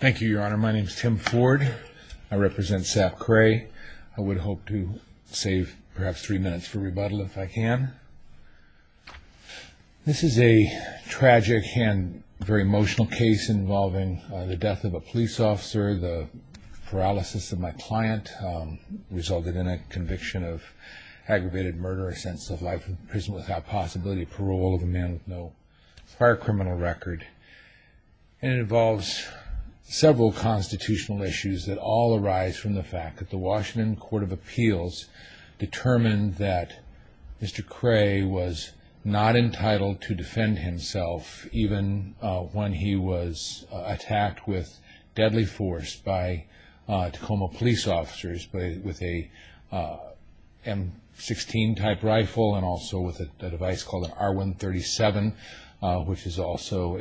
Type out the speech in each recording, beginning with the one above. Thank you, Your Honor. My name is Tim Ford. I represent Sap Kray. I would hope to save perhaps three minutes for rebuttal if I can. This is a tragic and very emotional case involving the death of a police officer, the paralysis of my client, resulted in a conviction of aggravated murder, a sense of life in prison without possibility of parole, of a man with no prior criminal record. It involves several constitutional issues that all arise from the fact that the Washington Court of Appeals determined that Mr. Kray was not entitled to defend himself even when he was attacked with deadly force by Tacoma police officers with a M-16 type rifle and also with a device called an R-137, which is also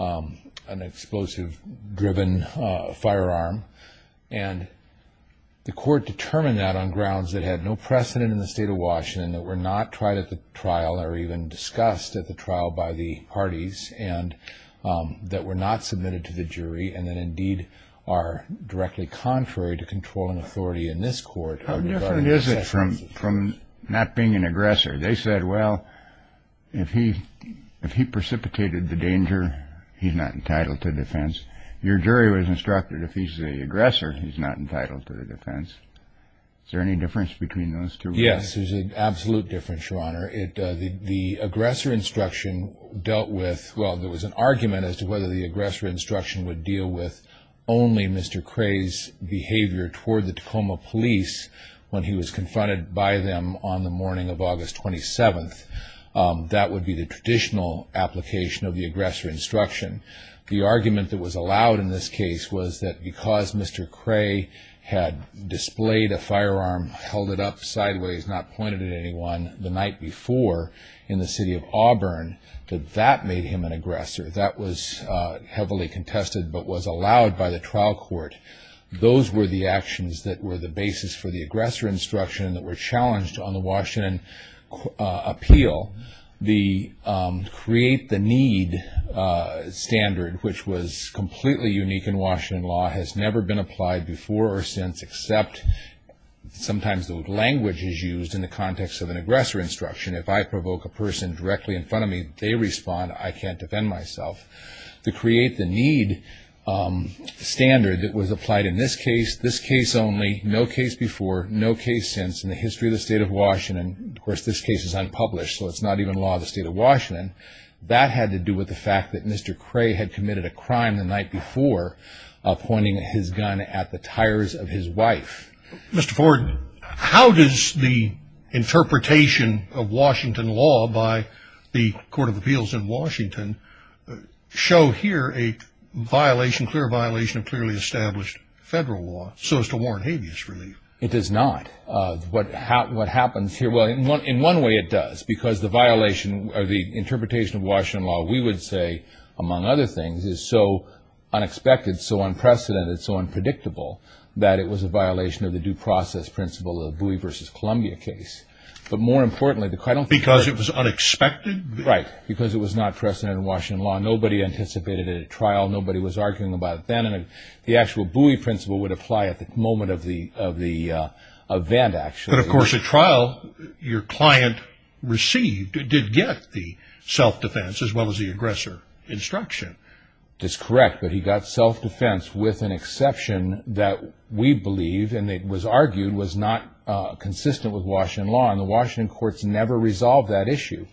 an explosive-driven firearm. And the court determined that on grounds that had no precedent in the state of Washington, that were not tried at the trial or even discussed at the trial by the parties, and that were not submitted to the jury and that indeed are directly contrary to controlling authority in this court. How different is it from not being an aggressor? They said, well, if he precipitated the danger, he's not entitled to defense. Your jury was instructed if he's the aggressor, he's not entitled to the defense. Is there any difference between those two? Yes, there's an absolute difference, Your Honor. The aggressor instruction dealt with – well, there was an argument as to whether the aggressor instruction would deal with only Mr. Kray's behavior toward the Tacoma police when he was confronted by them on the morning of August 27th. That would be the traditional application of the aggressor instruction. The argument that was allowed in this case was that because Mr. Kray had displayed a firearm, held it up sideways, not pointed at anyone the night before in the city of Auburn, that that made him an aggressor. That was heavily contested but was allowed by the trial court. Those were the actions that were the basis for the aggressor instruction that were challenged on the Washington appeal. The create the need standard, which was completely unique in Washington law, has never been applied before or since except sometimes the language is used in the context of an aggressor instruction. If I provoke a person directly in front of me, they respond. I can't defend myself. The create the need standard that was applied in this case, this case only, no case before, no case since in the history of the state of Washington. Of course, this case is unpublished, so it's not even law of the state of Washington. That had to do with the fact that Mr. Kray had committed a crime the night before, pointing his gun at the tires of his wife. Mr. Ford, how does the interpretation of Washington law by the court of appeals in Washington show here a violation, clear violation of clearly established federal law so as to warrant habeas relief? It does not. What happens here, well, in one way it does because the violation or the interpretation of Washington law, we would say, among other things, is so unexpected, so unprecedented, so unpredictable that it was a violation of the due process principle of the Bowie v. Columbia case. But more importantly, because it was unexpected. Right, because it was not precedent in Washington law. Nobody anticipated it at trial. Nobody was arguing about it then. The actual Bowie principle would apply at the moment of the event, actually. But, of course, at trial, your client received, did get the self-defense as well as the aggressor instruction. That's correct, but he got self-defense with an exception that we believe, and it was argued, was not consistent with Washington law, and the Washington courts never resolved that issue.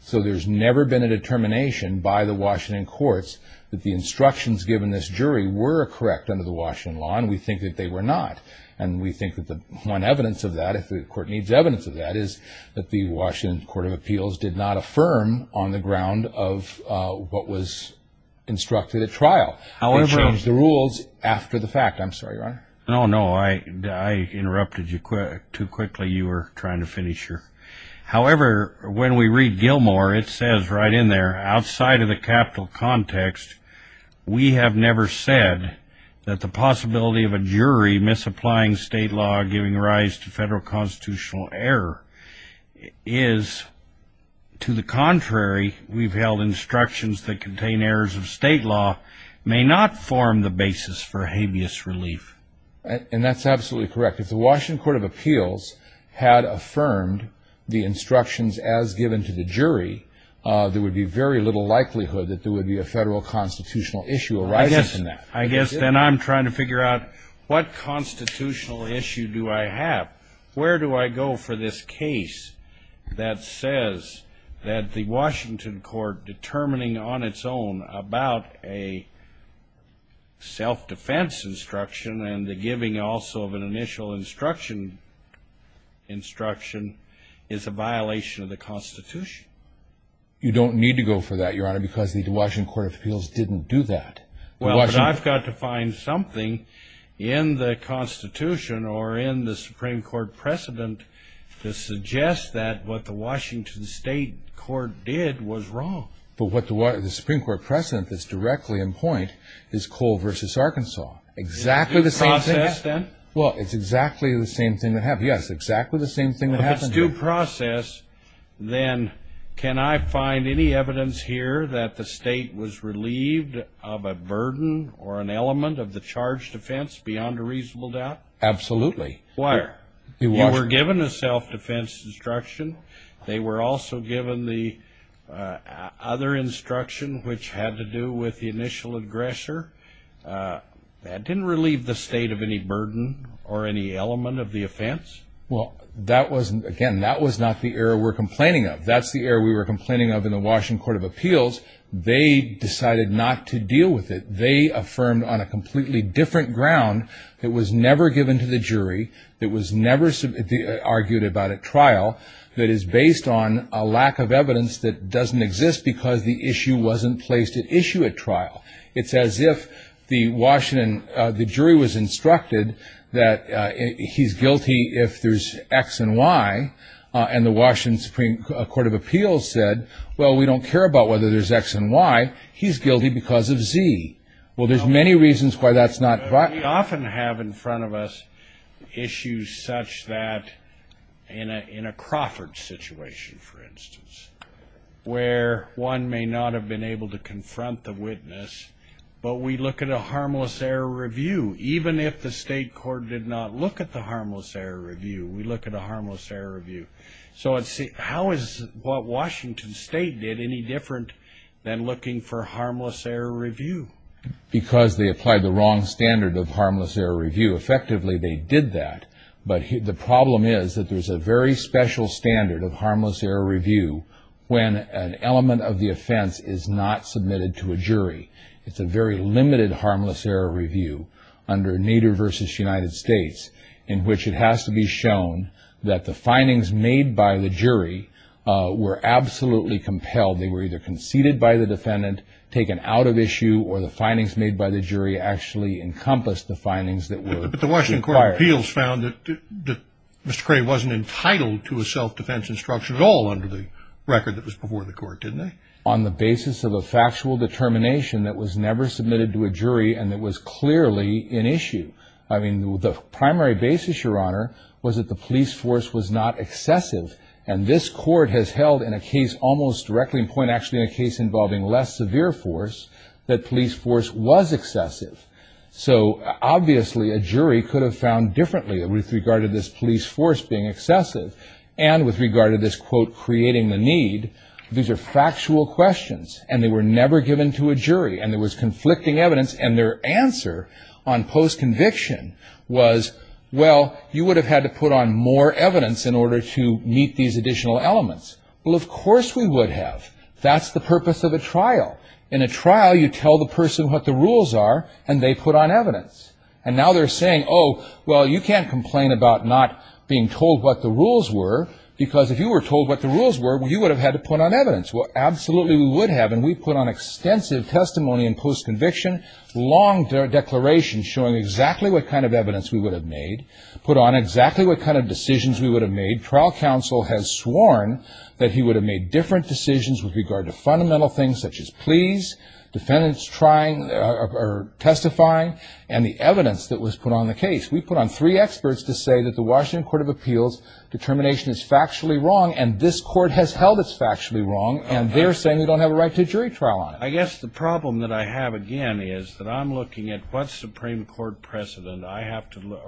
So there's never been a determination by the Washington courts that the instructions given this jury were correct under the Washington law, and we think that they were not. And we think that the one evidence of that, if the court needs evidence of that, is that the Washington Court of Appeals did not affirm on the ground of what was instructed at trial. They changed the rules after the fact. I'm sorry, Your Honor. No, no, I interrupted you too quickly. You were trying to finish your. However, when we read Gilmore, it says right in there, outside of the capital context, we have never said that the possibility of a jury misapplying state law, giving rise to federal constitutional error, is to the contrary. We've held instructions that contain errors of state law may not form the basis for habeas relief. And that's absolutely correct. If the Washington Court of Appeals had affirmed the instructions as given to the jury, there would be very little likelihood that there would be a federal constitutional issue arising from that. I guess then I'm trying to figure out what constitutional issue do I have? Where do I go for this case that says that the Washington Court determining on its own about a self-defense instruction and the giving also of an initial instruction is a violation of the Constitution? You don't need to go for that, Your Honor, because the Washington Court of Appeals didn't do that. Well, but I've got to find something in the Constitution or in the Supreme Court precedent to suggest that what the Washington State Court did was wrong. But what the Supreme Court precedent that's directly in point is Cole v. Arkansas. Exactly the same thing. It's due process, then? Well, it's exactly the same thing they have. Yes, exactly the same thing that happened there. If it's due process, then can I find any evidence here that the state was relieved of a burden or an element of the charge defense beyond a reasonable doubt? Absolutely. Why? They were given a self-defense instruction. They were also given the other instruction which had to do with the initial aggressor. That didn't relieve the state of any burden or any element of the offense. Well, again, that was not the error we're complaining of. That's the error we were complaining of in the Washington Court of Appeals. They decided not to deal with it. They affirmed on a completely different ground. It was never given to the jury. It was never argued about at trial. It is based on a lack of evidence that doesn't exist because the issue wasn't placed at issue at trial. It's as if the jury was instructed that he's guilty if there's X and Y, and the Washington Supreme Court of Appeals said, well, we don't care about whether there's X and Y. He's guilty because of Z. Well, there's many reasons why that's not right. We often have in front of us issues such that in a Crawford situation, for instance, where one may not have been able to confront the witness, but we look at a harmless error review. Even if the state court did not look at the harmless error review, we look at a harmless error review. So how is what Washington State did any different than looking for harmless error review? Because they applied the wrong standard of harmless error review. Effectively, they did that. But the problem is that there's a very special standard of harmless error review when an element of the offense is not submitted to a jury. It's a very limited harmless error review under Nader v. United States in which it has to be shown that the findings made by the jury were absolutely compelled. They were either conceded by the defendant, taken out of issue, or the findings made by the jury actually encompassed the findings that were required. But the Washington Court of Appeals found that Mr. Cray wasn't entitled to a self-defense instruction at all under the record that was before the court, didn't they? On the basis of a factual determination that was never submitted to a jury and that was clearly in issue. I mean, the primary basis, Your Honor, was that the police force was not excessive. And this court has held in a case almost directly in point, actually in a case involving less severe force, that police force was excessive. So obviously a jury could have found differently with regard to this police force being excessive and with regard to this, quote, creating the need. These are factual questions, and they were never given to a jury, and there was conflicting evidence, and their answer on post-conviction was, well, you would have had to put on more evidence in order to meet these additional elements. Well, of course we would have. That's the purpose of a trial. In a trial, you tell the person what the rules are, and they put on evidence. And now they're saying, oh, well, you can't complain about not being told what the rules were, because if you were told what the rules were, you would have had to put on evidence. Well, absolutely we would have, and we put on extensive testimony in post-conviction, long declarations showing exactly what kind of evidence we would have made, put on exactly what kind of decisions we would have made. Trial counsel has sworn that he would have made different decisions with regard to fundamental things such as pleas, defendants trying or testifying, and the evidence that was put on the case. We put on three experts to say that the Washington Court of Appeals determination is factually wrong, and this court has held it's factually wrong, and they're saying they don't have a right to a jury trial on it. I guess the problem that I have, again, is that I'm looking at what Supreme Court precedent I have to look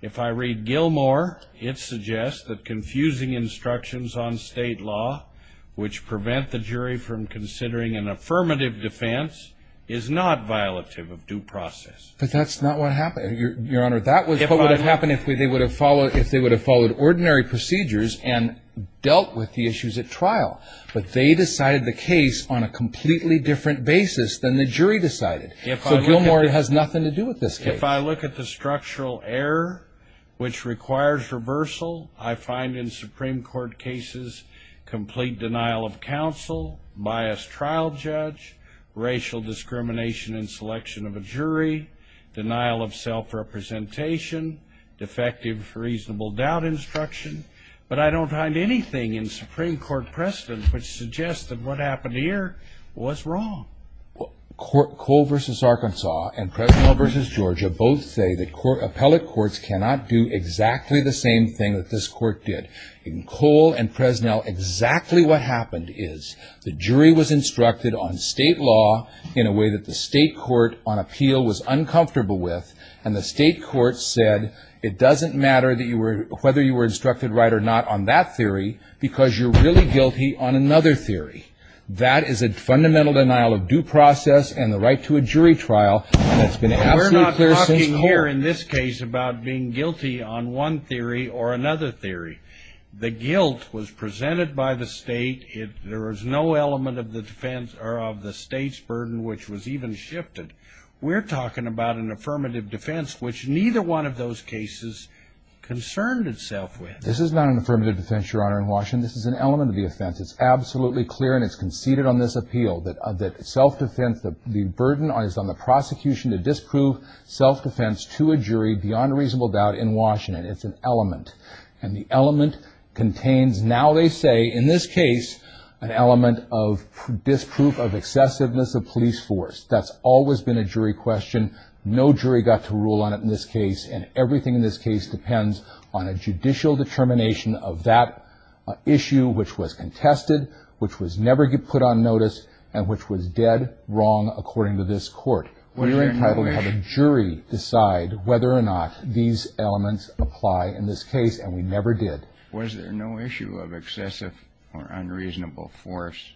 If I read Gilmore, it suggests that confusing instructions on state law, which prevent the jury from considering an affirmative defense, is not violative of due process. But that's not what happened. Your Honor, that was what would have happened if they would have followed ordinary procedures and dealt with the issues at trial. But they decided the case on a completely different basis than the jury decided. So Gilmore has nothing to do with this case. If I look at the structural error, which requires reversal, I find in Supreme Court cases complete denial of counsel, biased trial judge, racial discrimination in selection of a jury, denial of self-representation, defective reasonable doubt instruction. But I don't find anything in Supreme Court precedent which suggests that what happened here was wrong. Cole v. Arkansas and Presnell v. Georgia both say that appellate courts cannot do exactly the same thing that this court did. In Cole and Presnell, exactly what happened is the jury was instructed on state law in a way that the state court on appeal was uncomfortable with, and the state court said it doesn't matter whether you were instructed right or not on that theory because you're really guilty on another theory. That is a fundamental denial of due process and the right to a jury trial, and it's been absolutely clear since Cole. We're not talking here in this case about being guilty on one theory or another theory. The guilt was presented by the state. There was no element of the defense or of the state's burden which was even shifted. We're talking about an affirmative defense, which neither one of those cases concerned itself with. This is not an affirmative defense, Your Honor, in Washington. This is an element of the offense. It's absolutely clear and it's conceded on this appeal that self-defense, the burden is on the prosecution to disprove self-defense to a jury beyond reasonable doubt in Washington. It's an element, and the element contains, now they say in this case, an element of disproof of excessiveness of police force. That's always been a jury question. No jury got to rule on it in this case, and everything in this case depends on a judicial determination of that issue which was contested, which was never put on notice, and which was dead wrong according to this court. We're entitled to have a jury decide whether or not these elements apply in this case, and we never did. Was there no issue of excessive or unreasonable force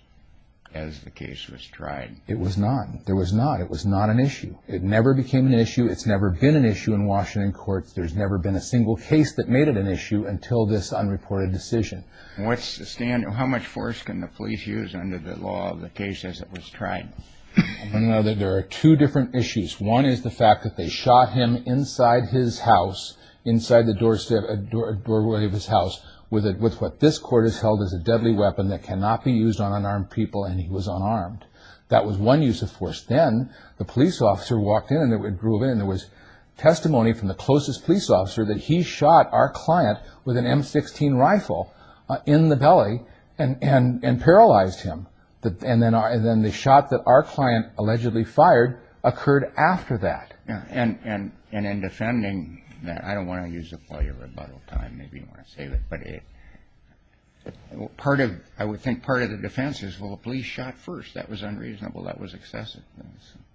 as the case was tried? It was not. There was not. It was not an issue. It never became an issue. It's never been an issue in Washington courts. There's never been a single case that made it an issue until this unreported decision. How much force can the police use under the law of the case as it was tried? There are two different issues. One is the fact that they shot him inside his house, inside the doorway of his house, with what this court has held as a deadly weapon that cannot be used on unarmed people, and he was unarmed. That was one use of force. Then the police officer walked in and there was testimony from the closest police officer that he shot our client with an M-16 rifle in the belly and paralyzed him. And then the shot that our client allegedly fired occurred after that. And in defending that, I don't want to use up all your rebuttal time, maybe you want to save it, but I would think part of the defense is, well, the police shot first. That was unreasonable. That was excessive.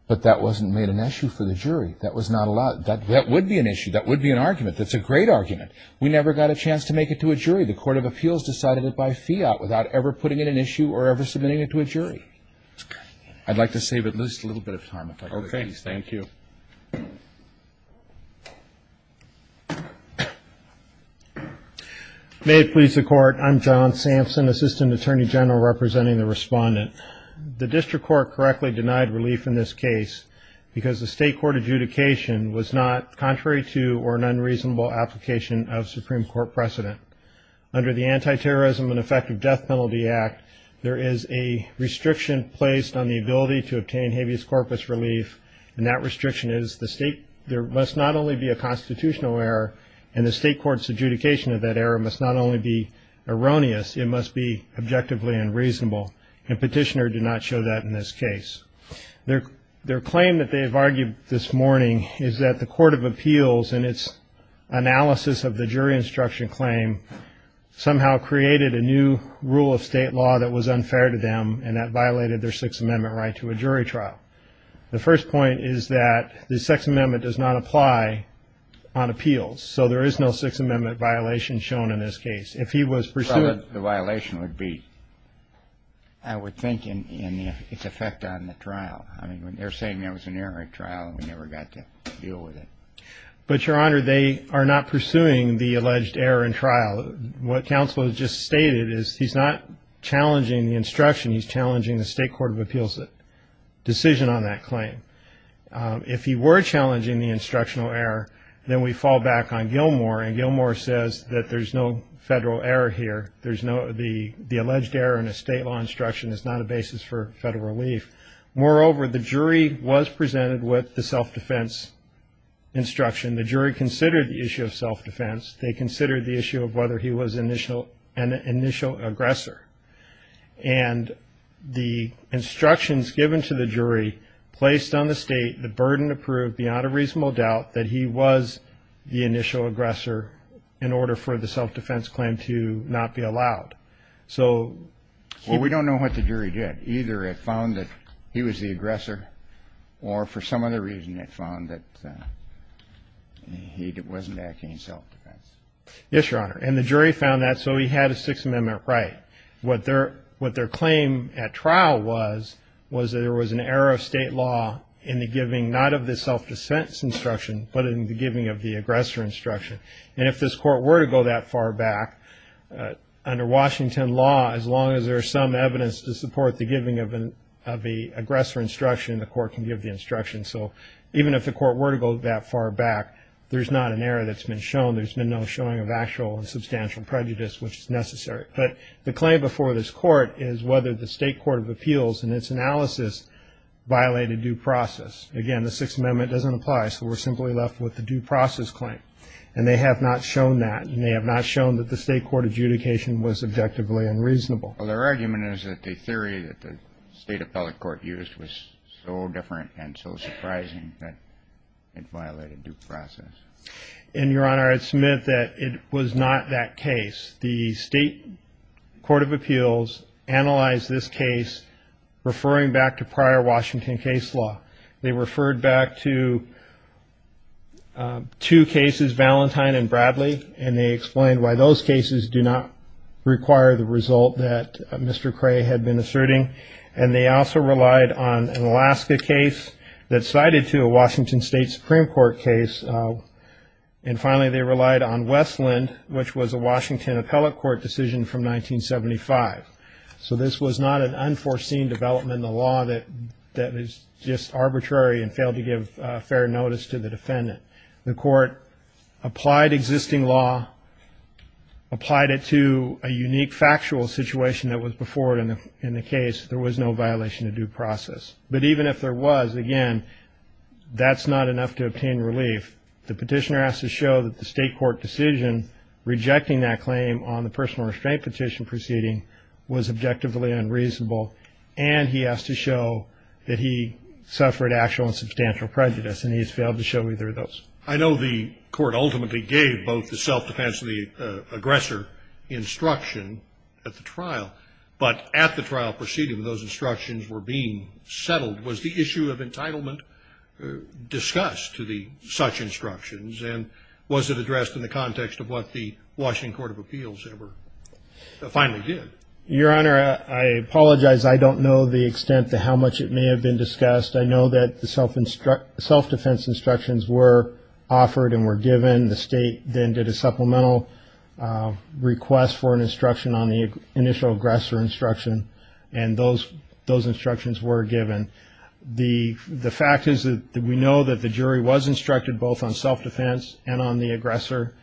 But that wasn't made an issue for the jury. That was not allowed. That would be an issue. That would be an argument. That's a great argument. We never got a chance to make it to a jury. The Court of Appeals decided it by fiat without ever putting it in issue or ever submitting it to a jury. I'd like to save at least a little bit of time if I could, please. Thank you. May it please the Court. I'm John Sampson, Assistant Attorney General representing the Respondent. The district court correctly denied relief in this case because the state court adjudication was not contrary to or an unreasonable application of Supreme Court precedent. Under the Anti-Terrorism and Effective Death Penalty Act, there is a restriction placed on the ability to obtain habeas corpus relief, and that restriction is there must not only be a constitutional error and the state court's adjudication of that error must not only be erroneous, it must be objectively unreasonable. And Petitioner did not show that in this case. Their claim that they've argued this morning is that the Court of Appeals and its analysis of the jury instruction claim somehow created a new rule of state law that was unfair to them and that violated their Sixth Amendment right to a jury trial. The first point is that the Sixth Amendment does not apply on appeals, so there is no Sixth Amendment violation shown in this case. The violation would be, I would think, in its effect on the trial. They're saying there was an error in trial and we never got to deal with it. But, Your Honor, they are not pursuing the alleged error in trial. What counsel has just stated is he's not challenging the instruction, he's challenging the state court of appeals' decision on that claim. If he were challenging the instructional error, then we fall back on Gilmore, and Gilmore says that there's no federal error here. The alleged error in a state law instruction is not a basis for federal relief. Moreover, the jury was presented with the self-defense instruction. The jury considered the issue of self-defense. They considered the issue of whether he was an initial aggressor. And the instructions given to the jury placed on the state the burden of proof beyond a reasonable doubt that he was the initial aggressor in order for the self-defense claim to not be allowed. Well, we don't know what the jury did. Either it found that he was the aggressor, or for some other reason it found that he wasn't acting in self-defense. Yes, Your Honor. And the jury found that, so he had a Sixth Amendment right. What their claim at trial was, was that there was an error of state law in the giving not of the self-defense instruction, but in the giving of the aggressor instruction. And if this court were to go that far back, under Washington law, as long as there is some evidence to support the giving of the aggressor instruction, the court can give the instruction. So even if the court were to go that far back, there's not an error that's been shown. There's been no showing of actual and substantial prejudice, which is necessary. But the claim before this court is whether the state court of appeals, in its analysis, violated due process. Again, the Sixth Amendment doesn't apply, so we're simply left with the due process claim. And they have not shown that, and they have not shown that the state court adjudication was objectively unreasonable. Well, their argument is that the theory that the state appellate court used was so different and so surprising that it violated due process. And, Your Honor, it's meant that it was not that case. The state court of appeals analyzed this case, referring back to prior Washington case law. They referred back to two cases, Valentine and Bradley, and they explained why those cases do not require the result that Mr. Cray had been asserting. And they also relied on an Alaska case that cited to a Washington State Supreme Court case. And finally, they relied on Westland, which was a Washington appellate court decision from 1975. So this was not an unforeseen development in the law that was just arbitrary and failed to give fair notice to the defendant. The court applied existing law, applied it to a unique factual situation that was before it in the case. There was no violation of due process. But even if there was, again, that's not enough to obtain relief. The petitioner has to show that the state court decision rejecting that claim on the personal restraint petition proceeding was objectively unreasonable, and he has to show that he suffered actual and substantial prejudice, and he has failed to show either of those. I know the court ultimately gave both the self-defense and the aggressor instruction at the trial, but at the trial proceeding, those instructions were being settled. Was the issue of entitlement discussed to the such instructions, and was it addressed in the context of what the Washington Court of Appeals ever finally did? Your Honor, I apologize. I don't know the extent to how much it may have been discussed. I know that the self-defense instructions were offered and were given. The state then did a supplemental request for an instruction on the initial aggressor instruction, and those instructions were given. The fact is that we know that the jury was instructed both on self-defense and on the aggressor.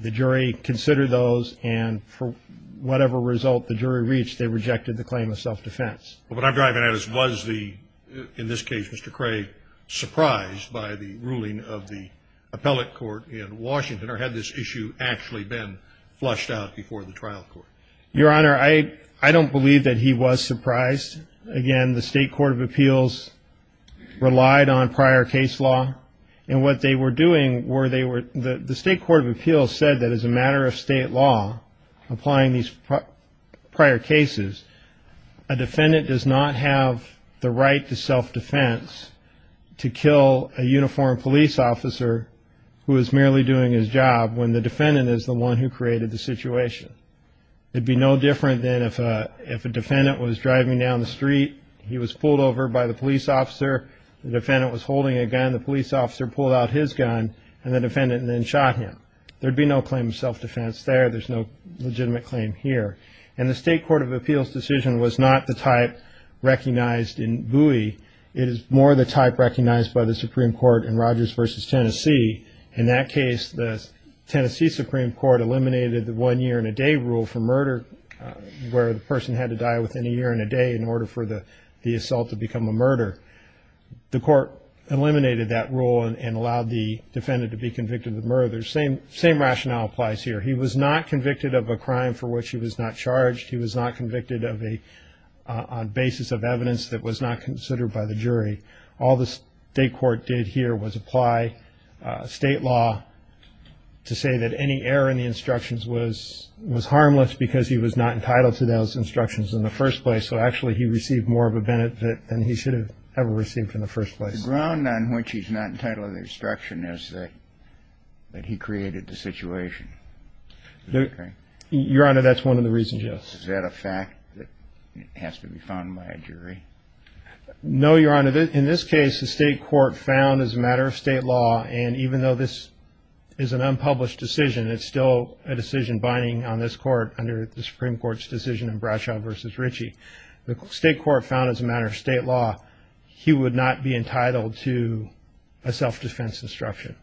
The jury considered those, and for whatever result the jury reached, they rejected the claim of self-defense. Well, what I'm driving at is was the, in this case, Mr. Craig, surprised by the ruling of the appellate court in Washington, or had this issue actually been flushed out before the trial court? Your Honor, I don't believe that he was surprised. Again, the State Court of Appeals relied on prior case law, and what they were doing were they were the State Court of Appeals said that as a matter of state law, applying these prior cases, a defendant does not have the right to self-defense to kill a uniformed police officer who is merely doing his job when the defendant is the one who created the situation. It would be no different than if a defendant was driving down the street, he was pulled over by the police officer, the defendant was holding a gun, the police officer pulled out his gun, and the defendant then shot him. There'd be no claim of self-defense there. There's no legitimate claim here. And the State Court of Appeals decision was not the type recognized in Bowie. It is more the type recognized by the Supreme Court in Rogers v. Tennessee. In that case, the Tennessee Supreme Court eliminated the one-year-and-a-day rule for murder, where the person had to die within a year and a day in order for the assault to become a murder. The court eliminated that rule and allowed the defendant to be convicted of the murder. The same rationale applies here. He was not convicted of a crime for which he was not charged. He was not convicted on basis of evidence that was not considered by the jury. All the state court did here was apply state law to say that any error in the instructions was harmless because he was not entitled to those instructions in the first place. So actually, he received more of a benefit than he should have ever received in the first place. The ground on which he's not entitled to the instruction is that he created the situation. Your Honor, that's one of the reasons, yes. Is that a fact that has to be found by a jury? No, Your Honor. In this case, the state court found as a matter of state law, and even though this is an unpublished decision, it's still a decision binding on this court under the Supreme Court's decision in Bradshaw v. Ritchie, the state court found as a matter of state law he would not be entitled to a self-defense instruction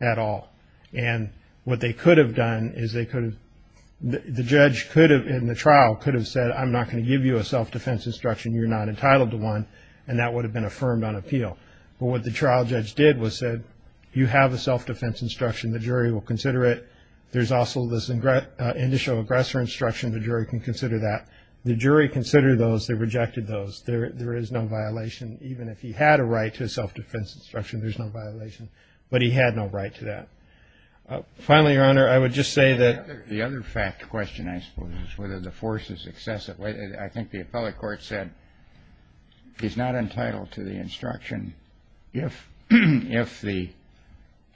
at all. And what they could have done is they could have – the judge could have, in the trial, could have said, I'm not going to give you a self-defense instruction, you're not entitled to one, and that would have been affirmed on appeal. But what the trial judge did was said, you have a self-defense instruction, the jury will consider it. There's also this initial aggressor instruction, the jury can consider that. The jury considered those, they rejected those. There is no violation, even if he had a right to a self-defense instruction, there's no violation. But he had no right to that. Finally, Your Honor, I would just say that – The other fact question, I suppose, is whether the force is excessive. I think the appellate court said he's not entitled to the instruction if the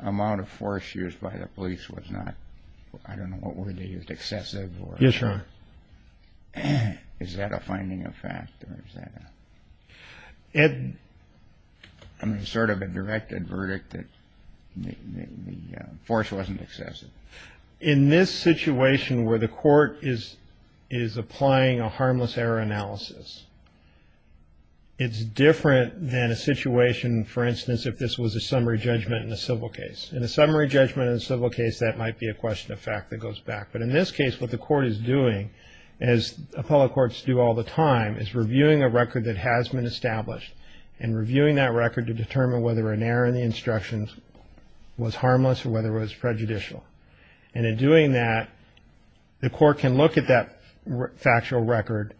amount of force used by the police was not, I don't know what word they used, excessive. Yes, Your Honor. Is that a finding of fact, or is that a – I mean, sort of a directed verdict that the force wasn't excessive. In this situation where the court is applying a harmless error analysis, it's different than a situation, for instance, if this was a summary judgment in a civil case. In a summary judgment in a civil case, that might be a question of fact that goes back. But in this case, what the court is doing, as appellate courts do all the time, is reviewing a record that has been established and reviewing that record to determine whether an error in the instructions was harmless or whether it was prejudicial. And in doing that, the court can look at that factual record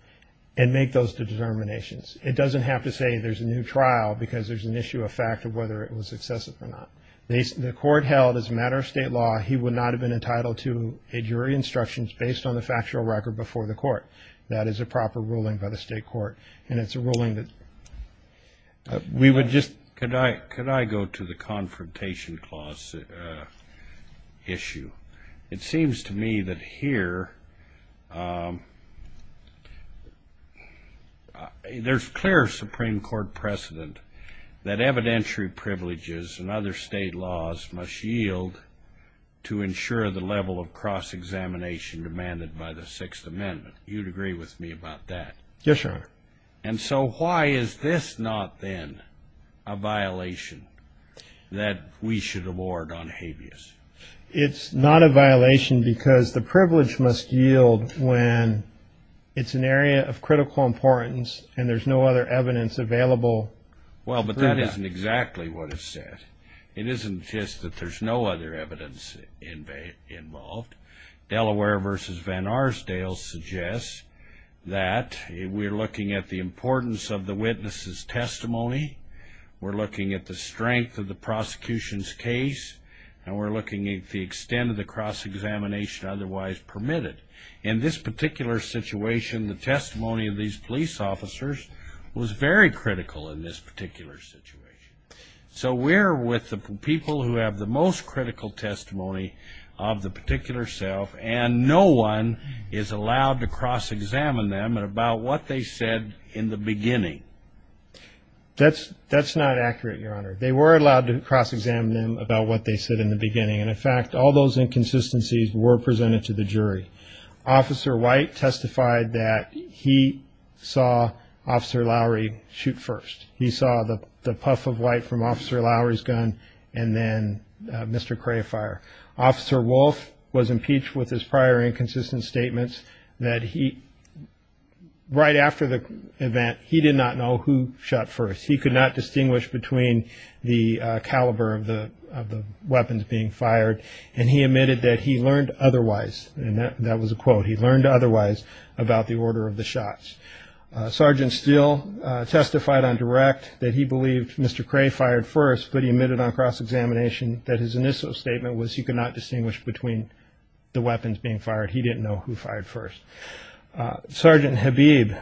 and make those determinations. It doesn't have to say there's a new trial because there's an issue of fact of whether it was excessive or not. The court held, as a matter of state law, he would not have been entitled to a jury instruction based on the factual record before the court. That is a proper ruling by the state court. And it's a ruling that we would just – Could I go to the confrontation clause issue? It seems to me that here there's clear Supreme Court precedent that evidentiary privileges and other state laws must yield to ensure the level of cross-examination demanded by the Sixth Amendment. You'd agree with me about that? Yes, Your Honor. And so why is this not then a violation that we should award on habeas? It's not a violation because the privilege must yield when it's an area of critical importance and there's no other evidence available. Well, but that isn't exactly what it said. It isn't just that there's no other evidence involved. Delaware v. Van Arsdale suggests that we're looking at the importance of the witness's testimony, we're looking at the strength of the prosecution's case, and we're looking at the extent of the cross-examination otherwise permitted. In this particular situation, the testimony of these police officers was very critical in this particular situation. So we're with the people who have the most critical testimony of the particular self and no one is allowed to cross-examine them about what they said in the beginning. That's not accurate, Your Honor. They were allowed to cross-examine them about what they said in the beginning. And, in fact, all those inconsistencies were presented to the jury. Officer White testified that he saw Officer Lowry shoot first. He saw the puff of white from Officer Lowry's gun and then Mr. Crayfire. Officer Wolf was impeached with his prior inconsistent statements that he, right after the event, he did not know who shot first. He could not distinguish between the caliber of the weapons being fired, and he admitted that he learned otherwise, and that was a quote. He learned otherwise about the order of the shots. Sergeant Steele testified on direct that he believed Mr. Cray fired first, but he admitted on cross-examination that his initial statement was he could not distinguish between the weapons being fired. He didn't know who fired first. Sergeant Habib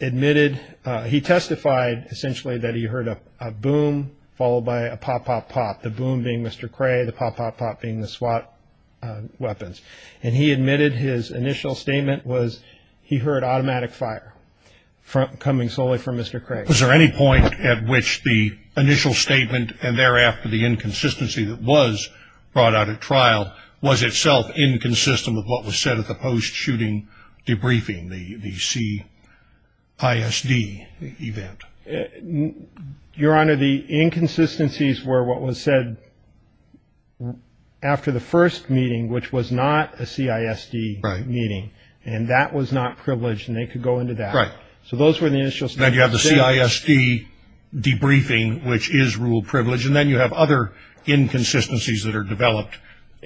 admitted he testified essentially that he heard a boom followed by a pop, pop, pop, the boom being Mr. Cray, the pop, pop, pop being the SWAT weapons. And he admitted his initial statement was he heard automatic fire coming solely from Mr. Cray. Was there any point at which the initial statement and thereafter the inconsistency that was brought out at trial was itself inconsistent with what was said at the post-shooting debriefing, the CISD event? Your Honor, the inconsistencies were what was said after the first meeting, which was not a CISD meeting. Right. And that was not privileged, and they could go into that. Right. So those were the initial statements. Then you have the CISD debriefing, which is rule privilege, and then you have other inconsistencies that are developed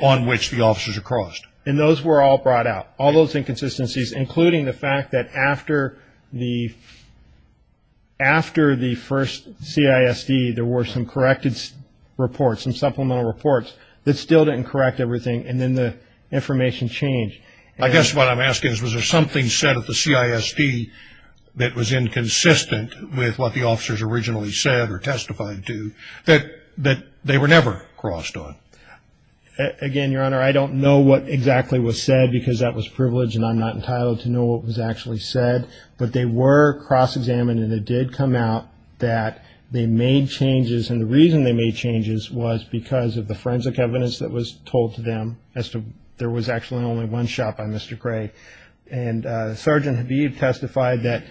on which the officers are crossed. And those were all brought out, all those inconsistencies, including the fact that after the first CISD there were some corrected reports, some supplemental reports that still didn't correct everything, and then the information changed. I guess what I'm asking is was there something said at the CISD that was inconsistent with what the officers originally said or testified to that they were never crossed on? Again, Your Honor, I don't know what exactly was said because that was privileged, and I'm not entitled to know what was actually said. But they were cross-examined, and it did come out that they made changes, and the reason they made changes was because of the forensic evidence that was told to them, as to there was actually only one shot by Mr. Gray. And Sergeant Habib testified that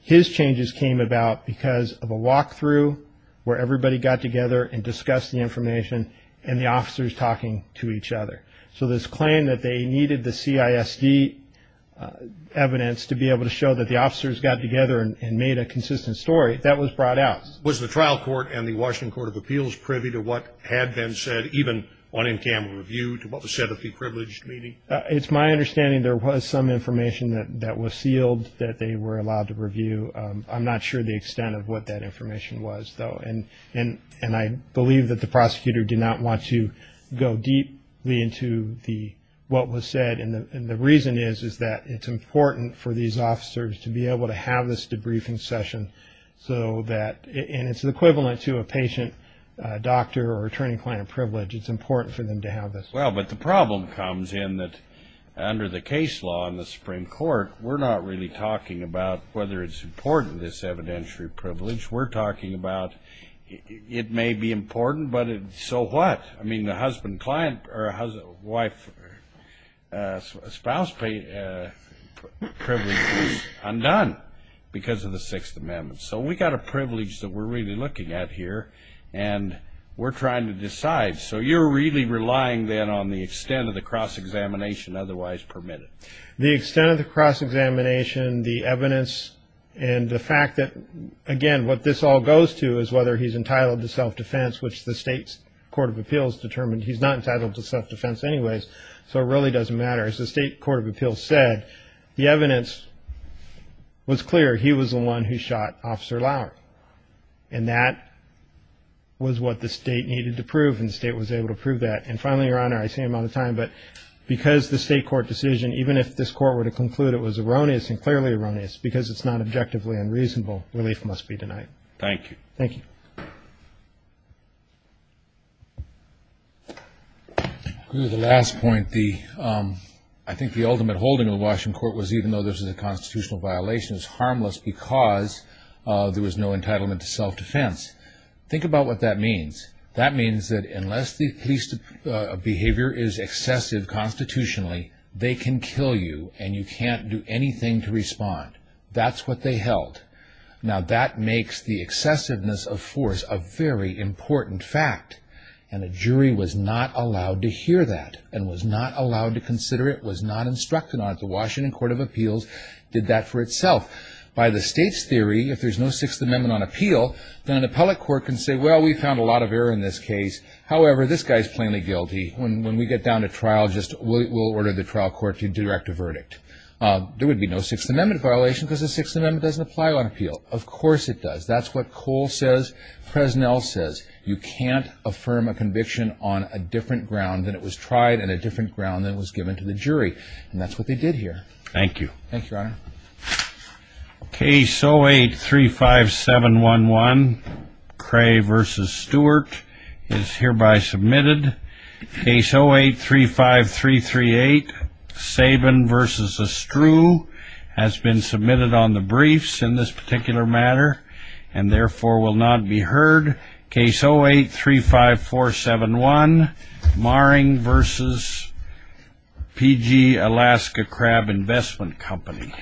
his changes came about because of a walk-through where everybody got together and discussed the information and the officers talking to each other. So this claim that they needed the CISD evidence to be able to show that the officers got together and made a consistent story, that was brought out. Was the trial court and the Washington Court of Appeals privy to what had been said, even on MTM review, to what was said at the privileged meeting? It's my understanding there was some information that was sealed that they were allowed to review. I'm not sure the extent of what that information was, though. And I believe that the prosecutor did not want to go deeply into what was said, and the reason is that it's important for these officers to be able to have this debriefing session, and it's equivalent to a patient, doctor, or attorney-client privilege. It's important for them to have this. Well, but the problem comes in that under the case law in the Supreme Court, we're not really talking about whether it's important, this evidentiary privilege. We're talking about it may be important, but so what? I mean, the husband-wife-spouse privilege is undone because of the Sixth Amendment. So we've got a privilege that we're really looking at here, and we're trying to decide. So you're really relying then on the extent of the cross-examination otherwise permitted. The extent of the cross-examination, the evidence, and the fact that, again, what this all goes to is whether he's entitled to self-defense, which the state's Court of Appeals determined he's not entitled to self-defense anyways, so it really doesn't matter. As the state Court of Appeals said, the evidence was clear he was the one who shot Officer Lauer, and that was what the state needed to prove, and the state was able to prove that. And finally, Your Honor, I see I'm out of time, but because the state court decision, even if this court were to conclude it was erroneous and clearly erroneous, because it's not objectively unreasonable, relief must be denied. Thank you. Thank you. The last point, I think the ultimate holding of the Washington court was, even though this is a constitutional violation, it's harmless because there was no entitlement to self-defense. Think about what that means. That means that unless the police behavior is excessive constitutionally, they can kill you and you can't do anything to respond. That's what they held. Now, that makes the excessiveness of force a very important fact, and a jury was not allowed to hear that and was not allowed to consider it, was not instructed on it. The Washington Court of Appeals did that for itself. By the state's theory, if there's no Sixth Amendment on appeal, then an appellate court can say, well, we found a lot of error in this case. However, this guy is plainly guilty. When we get down to trial, we'll order the trial court to direct a verdict. There would be no Sixth Amendment violation because the Sixth Amendment doesn't apply on appeal. Of course it does. That's what Cole says, Fresnel says. You can't affirm a conviction on a different ground than it was tried and a different ground than it was given to the jury, and that's what they did here. Thank you. Thank you, Your Honor. Case 0835711, Cray v. Stewart, is hereby submitted. Case 0835338, Sabin v. Estrue, has been submitted on the briefs in this particular matter and therefore will not be heard. Case 0835471, Maring v. P.G., Alaska Crab Investment Company.